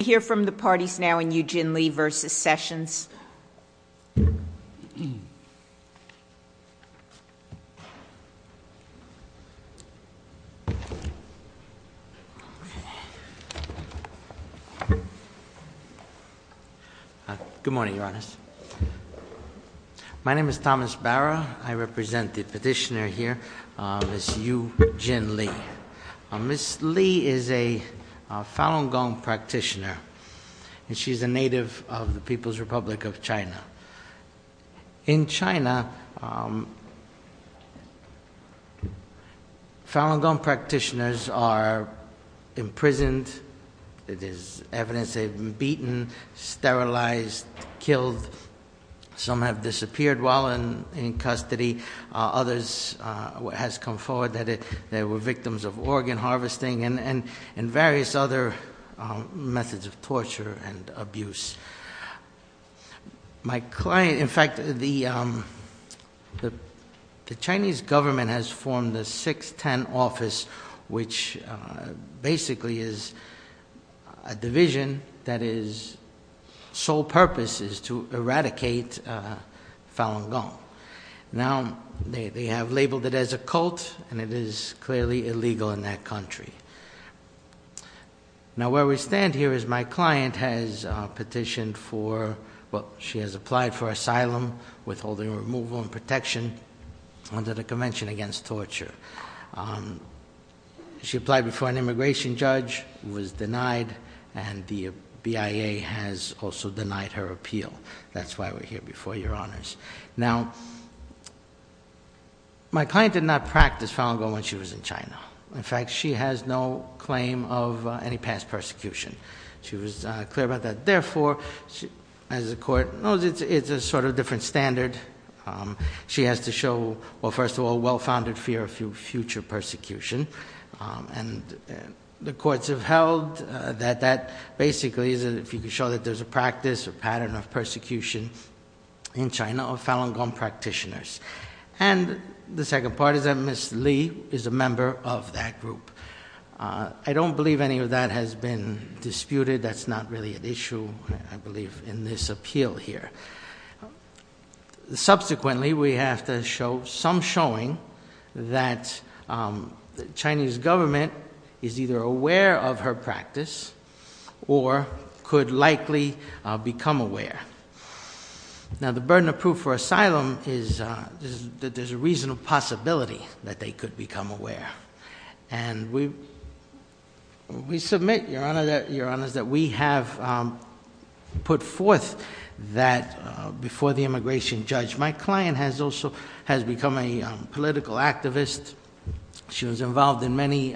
Can we hear from the parties now in Yujin Lee v. Sessions? Good morning, Your Honors. My name is Thomas Barra. I represent the petitioner here, Ms. Yujin Lee. Ms. Lee is a Falun Gong practitioner, and she's a native of the People's Republic of China. In China, Falun Gong practitioners are imprisoned. It is evidence they've been beaten, sterilized, killed. Some have disappeared while in custody. Others has come forward that they were victims of organ harvesting and various other methods of torture and abuse. My client, in fact, the Chinese government has formed a 610 office, which basically is a division that is, sole purpose is to eradicate Falun Gong. Now, they have labeled it as a cult, and it is clearly illegal in that country. Now, where we stand here is my client has petitioned for, well, she has applied for asylum, withholding removal and protection under the Convention Against Torture. She applied before an immigration judge, was denied, and the BIA has also denied her appeal. That's why we're here before your honors. Now, my client did not practice Falun Gong when she was in China. In fact, she has no claim of any past persecution. She was clear about that. Therefore, as the court knows, it's a sort of different standard. She has to show, well, first of all, well-founded fear of future persecution. And the courts have held that that basically isn't, that if you can show that there's a practice or pattern of persecution in China of Falun Gong practitioners. And the second part is that Ms. Lee is a member of that group. I don't believe any of that has been disputed. That's not really an issue, I believe, in this appeal here. Subsequently, we have to show some showing that the Chinese government is either aware of her practice or could likely become aware. Now, the burden of proof for asylum is that there's a reasonable possibility that they could become aware. And we submit, your honors, that we have put forth that before the immigration judge. My client has also become a political activist. She was involved in many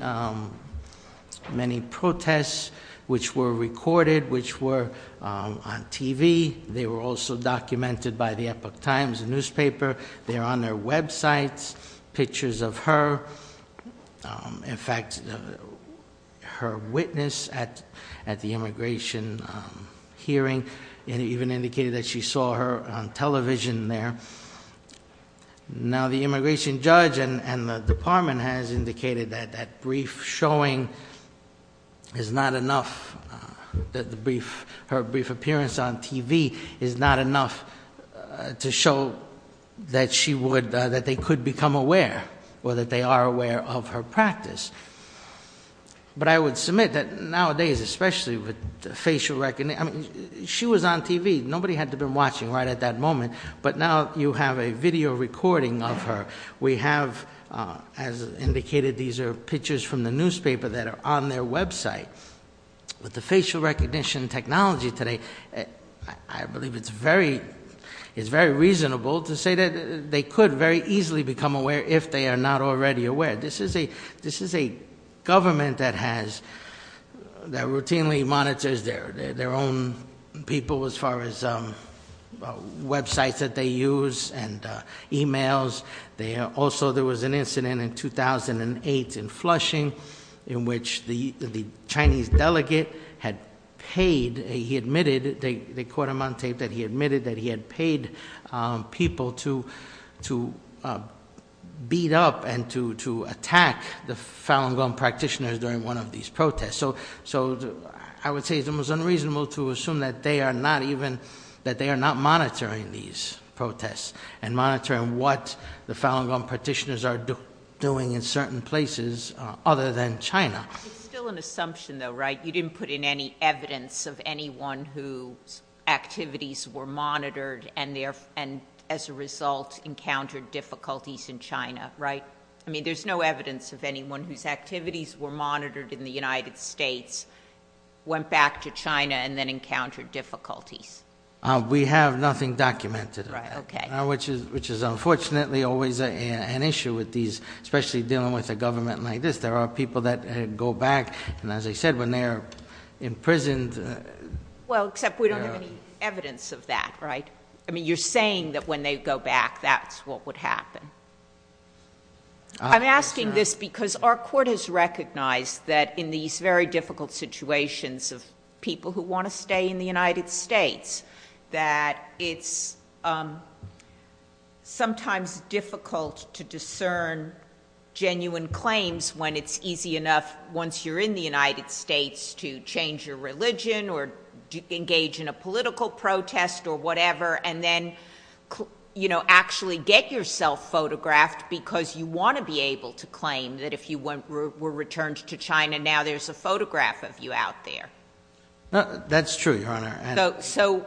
protests which were recorded, which were on TV. They were also documented by the Epoch Times newspaper. They're on their websites, pictures of her. In fact, her witness at the immigration hearing, it even indicated that she saw her on television there. Now, the immigration judge and the department has indicated that that brief showing is not enough, that her brief appearance on TV is not enough to show that she would, that they could become aware, or that they are aware of her practice. But I would submit that nowadays, especially with facial recognition, I mean, she was on TV. Nobody had to have been watching right at that moment. But now you have a video recording of her. We have, as indicated, these are pictures from the newspaper that are on their website. With the facial recognition technology today, I believe it's very reasonable to say that they could very easily become aware if they are not already aware. This is a government that routinely monitors their own people as far as websites that they use and emails. Also, there was an incident in 2008 in Flushing, in which the Chinese delegate had paid, he admitted, they caught him on tape, that he admitted that he had paid people to beat up and to attack the Falun Gong practitioners during one of these protests. So I would say it's almost unreasonable to assume that they are not even, that they are not monitoring these protests, and monitoring what the Falun Gong practitioners are doing in certain places other than China. It's still an assumption though, right? You didn't put in any evidence of anyone whose activities were monitored and as a result encountered difficulties in China, right? I mean, there's no evidence of anyone whose activities were monitored in the United States, went back to China, and then encountered difficulties. We have nothing documented of that, which is unfortunately always an issue with these, especially dealing with a government like this, there are people that go back, and as I said, when they're imprisoned. Well, except we don't have any evidence of that, right? I mean, you're saying that when they go back, that's what would happen. I'm asking this because our court has recognized that in these very difficult situations of people who want to stay in the United States, that it's sometimes difficult to discern genuine claims when it's easy enough, once you're in the United States, to change your religion, or engage in a political protest, or whatever. And then actually get yourself photographed, because you want to be able to claim that if you were returned to China, now there's a photograph of you out there. That's true, Your Honor. So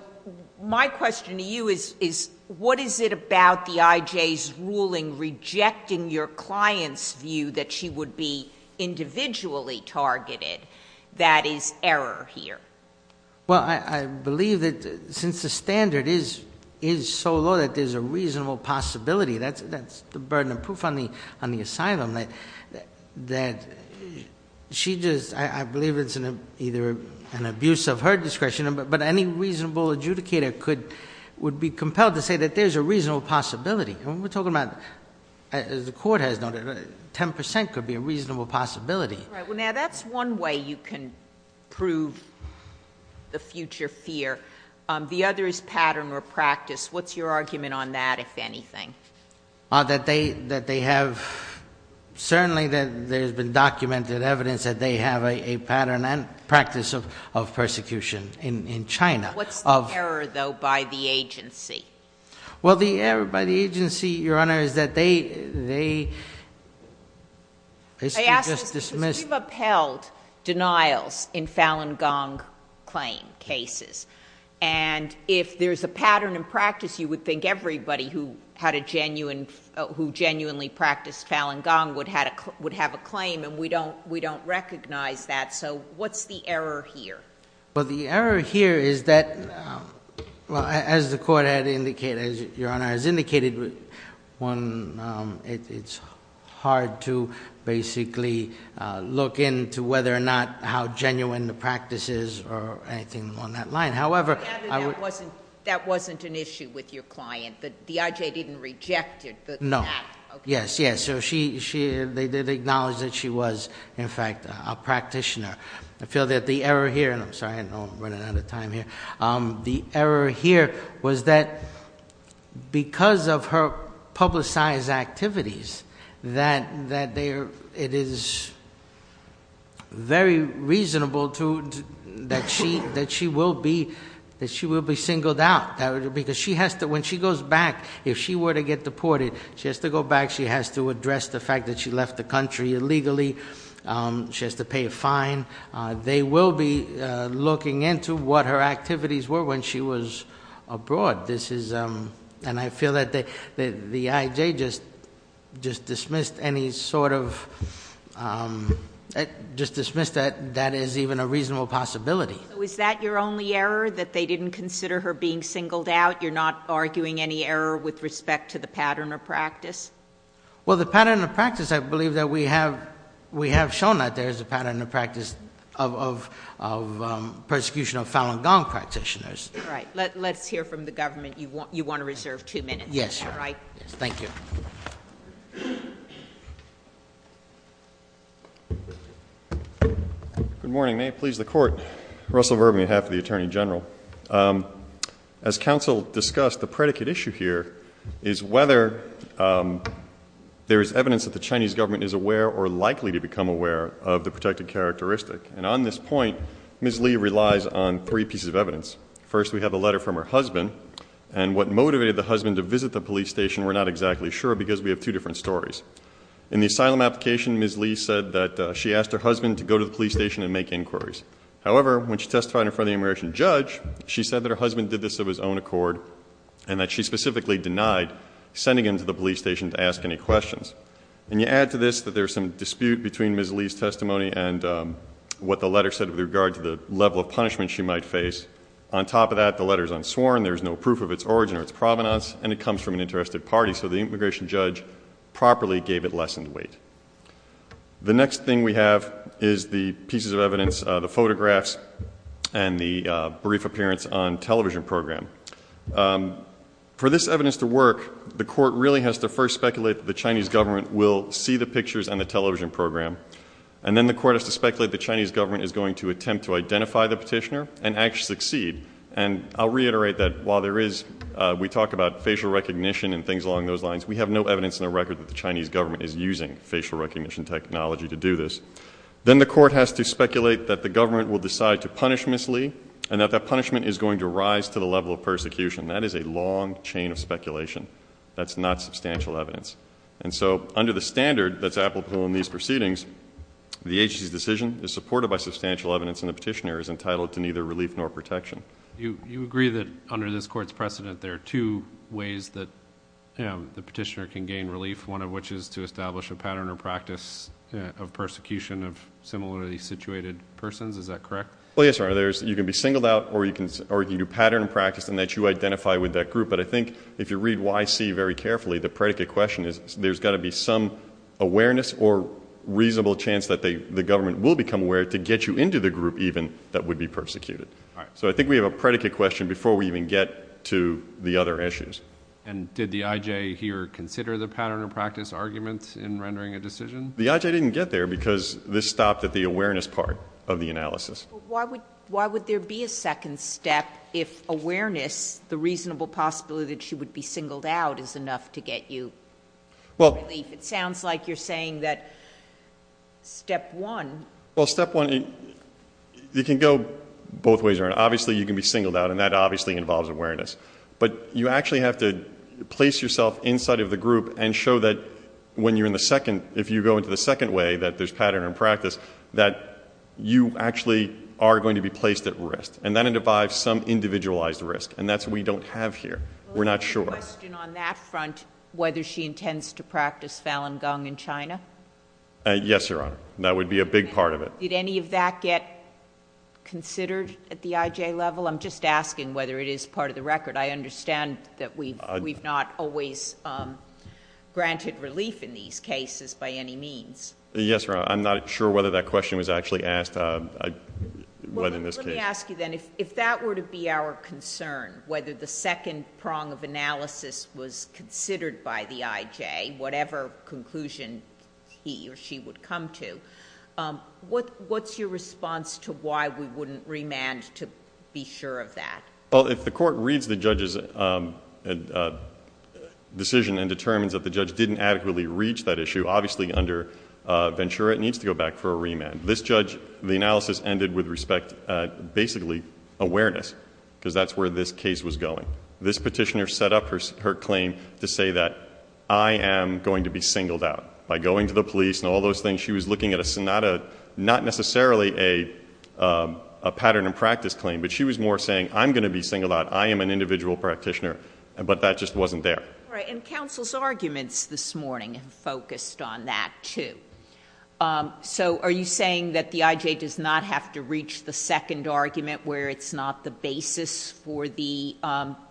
my question to you is, what is it about the IJ's ruling rejecting your client's view that she would be individually targeted that is error here? Well, I believe that since the standard is so low that there's a reasonable possibility, that's the burden of proof on the asylum, that she just, I believe it's either an abuse of her discretion, but any reasonable adjudicator would be compelled to say that there's a reasonable possibility. And we're talking about, as the court has noted, 10% could be a reasonable possibility. Right, well now that's one way you can prove the future fear. The other is pattern or practice. What's your argument on that, if anything? That they have, certainly that there's been documented evidence that they have a pattern and practice of persecution in China. What's the error, though, by the agency? Well, the error by the agency, Your Honor, is that they basically just dismissed- I ask this because we've upheld denials in Falun Gong claim cases. And if there's a pattern and practice, you would think everybody who genuinely practiced Falun Gong would have a claim, and we don't recognize that. So what's the error here? Well, the error here is that, well, as the court had indicated, as Your Honor has indicated, one, it's hard to basically look into whether or not how genuine the practice is or anything along that line. However, I would- That wasn't an issue with your client, that the IJ didn't reject it, but- No. Yes, yes, so they did acknowledge that she was, in fact, a practitioner. I feel that the error here, and I'm sorry, I know I'm running out of time here. The error here was that because of her publicized activities, that it is very reasonable that she will be singled out. Because when she goes back, if she were to get deported, she has to go back, she has to address the fact that she left the country illegally, she has to pay a fine. They will be looking into what her activities were when she was abroad. This is, and I feel that the IJ just dismissed any sort of, just dismissed that as even a reasonable possibility. So is that your only error, that they didn't consider her being singled out? You're not arguing any error with respect to the pattern of practice? Well, the pattern of practice, I believe that we have shown that there is a pattern of practice of persecution of Falun Gong practitioners. All right, let's hear from the government. You want to reserve two minutes? Yes, Your Honor. All right. Thank you. Good morning, may it please the court. Russell Verby, on behalf of the Attorney General. As counsel discussed, the predicate issue here is whether there is evidence that the Chinese government is aware or likely to become aware of the protected characteristic. And on this point, Ms. Lee relies on three pieces of evidence. First, we have a letter from her husband. And what motivated the husband to visit the police station, we're not exactly sure because we have two different stories. In the asylum application, Ms. Lee said that she asked her husband to go to the police station and make inquiries. However, when she testified in front of the immigration judge, she said that her husband did this of his own accord and that she specifically denied sending him to the police station to ask any questions. And you add to this that there's some dispute between Ms. Lee's testimony and what the letter said with regard to the level of punishment she might face. On top of that, the letter's unsworn, there's no proof of its origin or its provenance, and it comes from an interested party. So the immigration judge properly gave it lessened weight. The next thing we have is the pieces of evidence, the photographs, and the brief appearance on television program. For this evidence to work, the court really has to first speculate that the Chinese government will see the pictures on the television program. And then the court has to speculate the Chinese government is going to attempt to identify the petitioner and actually succeed. And I'll reiterate that while there is, we talk about facial recognition and things along those lines. We have no evidence in the record that the Chinese government is using facial recognition technology to do this. Then the court has to speculate that the government will decide to punish Ms. Lee and that that punishment is going to rise to the level of persecution. That is a long chain of speculation. That's not substantial evidence. And so under the standard that's applicable in these proceedings, the agency's decision is supported by substantial evidence and the petitioner is entitled to neither relief nor protection. You agree that under this court's precedent, there are two ways that the petitioner can gain relief, one of which is to establish a pattern or practice of persecution of similarly situated persons, is that correct? Yes sir, you can be singled out or you can do pattern practice and that you identify with that group. But I think if you read YC very carefully, the predicate question is there's got to be some awareness or reasonable chance that the government will become aware to get you into the group even that would be persecuted. So I think we have a predicate question before we even get to the other issues. And did the IJ here consider the pattern of practice arguments in rendering a decision? The IJ didn't get there because this stopped at the awareness part of the analysis. Why would there be a second step if awareness, the reasonable possibility that she would be singled out is enough to get you relief? It sounds like you're saying that step one. Well, step one, you can go both ways around. Obviously, you can be singled out and that obviously involves awareness. But you actually have to place yourself inside of the group and show that when you're in the second, if you go into the second way that there's pattern and practice, that you actually are going to be placed at risk. And that individes some individualized risk. And that's what we don't have here. We're not sure. I have a question on that front, whether she intends to practice Falun Gong in China? Yes, Your Honor. That would be a big part of it. Did any of that get considered at the IJ level? I'm just asking whether it is part of the record. I understand that we've not always granted relief in these cases by any means. Yes, Your Honor. I'm not sure whether that question was actually asked. Well, let me ask you then, if that were to be our concern, whether the second prong of analysis was considered by the IJ, whatever conclusion he or she would come to, what's your response to why we wouldn't remand to be sure of that? Well, if the court reads the judge's decision and determines that the judge didn't adequately reach that issue, obviously under Ventura, it needs to go back for a remand. This judge, the analysis ended with respect, basically awareness, because that's where this case was going. This petitioner set up her claim to say that I am going to be singled out. By going to the police and all those things, she was looking at not necessarily a pattern and practice claim. But she was more saying, I'm going to be singled out. I am an individual practitioner. But that just wasn't there. All right, and counsel's arguments this morning focused on that too. So are you saying that the IJ does not have to reach the second argument where it's not the basis for the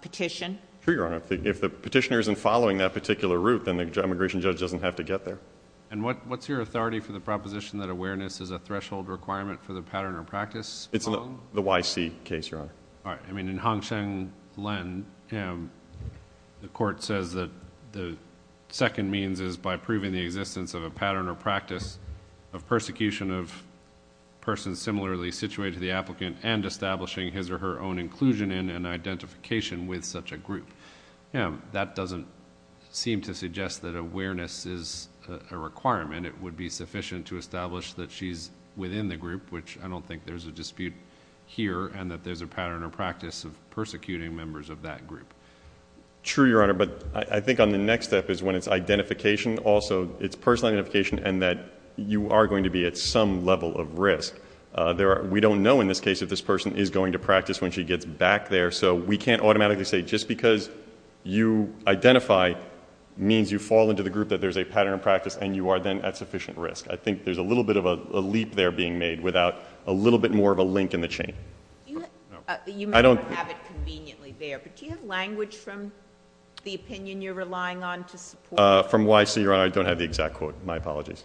petition? Sure, Your Honor. If the petitioner isn't following that particular route, then the immigration judge doesn't have to get there. And what's your authority for the proposition that awareness is a threshold requirement for the pattern or practice prong? All right, I mean, in Hong Sheng Len, the court says that the second means is by proving the existence of a pattern or practice of persecution of persons similarly situated to the applicant and establishing his or her own inclusion in an identification with such a group. That doesn't seem to suggest that awareness is a requirement. It would be sufficient to establish that she's within the group, which I don't think there's a dispute here, and that there's a pattern or practice of persecuting members of that group. True, Your Honor, but I think on the next step is when it's identification, also it's personal identification, and that you are going to be at some level of risk. We don't know in this case if this person is going to practice when she gets back there. So we can't automatically say just because you identify means you fall into the group that there's a pattern of practice and you are then at sufficient risk. I think there's a little bit of a leap there being made without a little bit more of a link in the chain. You may not have it conveniently there, but do you have language from the opinion you're relying on to support? From YC, Your Honor, I don't have the exact quote. My apologies.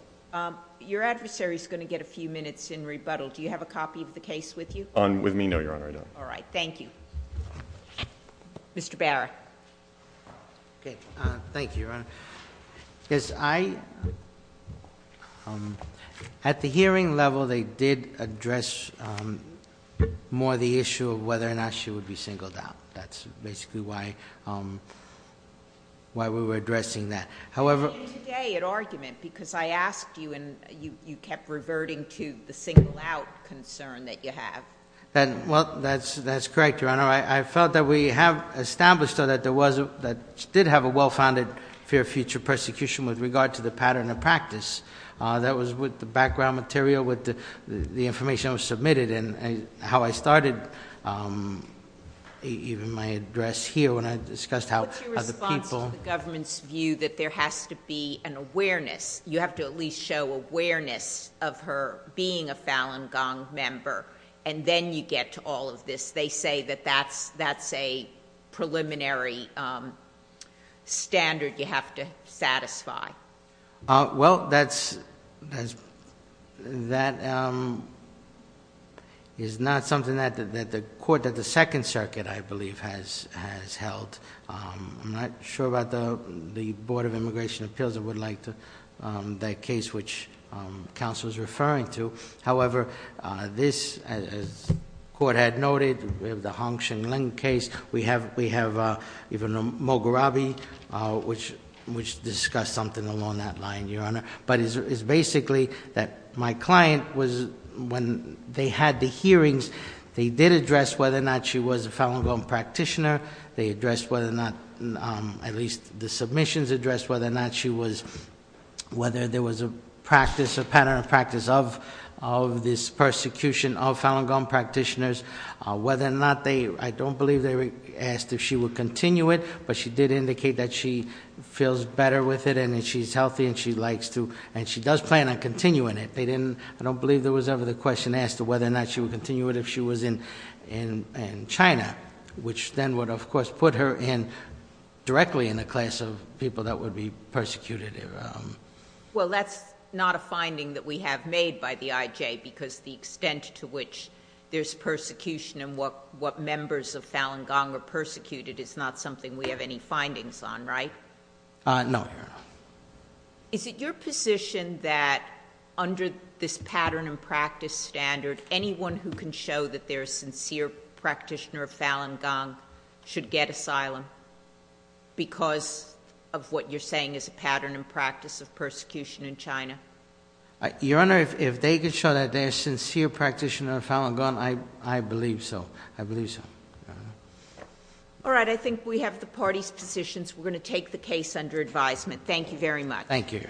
Your adversary's going to get a few minutes in rebuttal. Do you have a copy of the case with you? On with me? No, Your Honor, I don't. Mr. Barrett. Okay, thank you, Your Honor. Yes, I, at the hearing level, they did address more the issue of whether or not she would be singled out. That's basically why we were addressing that. However- You made an argument because I asked you and you kept reverting to the single out concern that you have. That, well, that's correct, Your Honor. I felt that we have established that there was, that she did have a well-founded fear of future persecution with regard to the pattern of practice. That was with the background material, with the information that was submitted, and how I started even my address here when I discussed how the people- What's your response to the government's view that there has to be an awareness? You have to at least show awareness of her being a Falun Gong member. And then you get to all of this. They say that that's a preliminary standard you have to satisfy. Well, that is not something that the court of the Second Circuit, I believe, has held. I'm not sure about the Board of Immigration Appeals, I would like to, that case which counsel's referring to. However, this, as the court had noted, we have the Hong Shing Ling case. We have even Mogurabi, which discussed something along that line, Your Honor. But it's basically that my client was, when they had the hearings, they did address whether or not she was a Falun Gong practitioner. They addressed whether or not, at least the submissions addressed whether or not she was, whether there was a practice, a pattern of practice of this persecution of Falun Gong practitioners. Whether or not they, I don't believe they asked if she would continue it, but she did indicate that she feels better with it, and that she's healthy, and she likes to, and she does plan on continuing it. They didn't, I don't believe there was ever the question asked of whether or not she would continue it if she was in China. Which then would of course put her in, directly in a class of people that would be persecuted. Well, that's not a finding that we have made by the IJ, because the extent to which there's persecution and what members of Falun Gong are persecuted is not something we have any findings on, right? No, Your Honor. Is it your position that under this pattern and practice standard, anyone who can show that they're a sincere practitioner of Falun Gong should get asylum? Because of what you're saying is a pattern and practice of persecution in China? Your Honor, if they could show that they're a sincere practitioner of Falun Gong, I believe so. I believe so. All right, I think we have the parties' positions. We're going to take the case under advisement. Thank you very much. Thank you.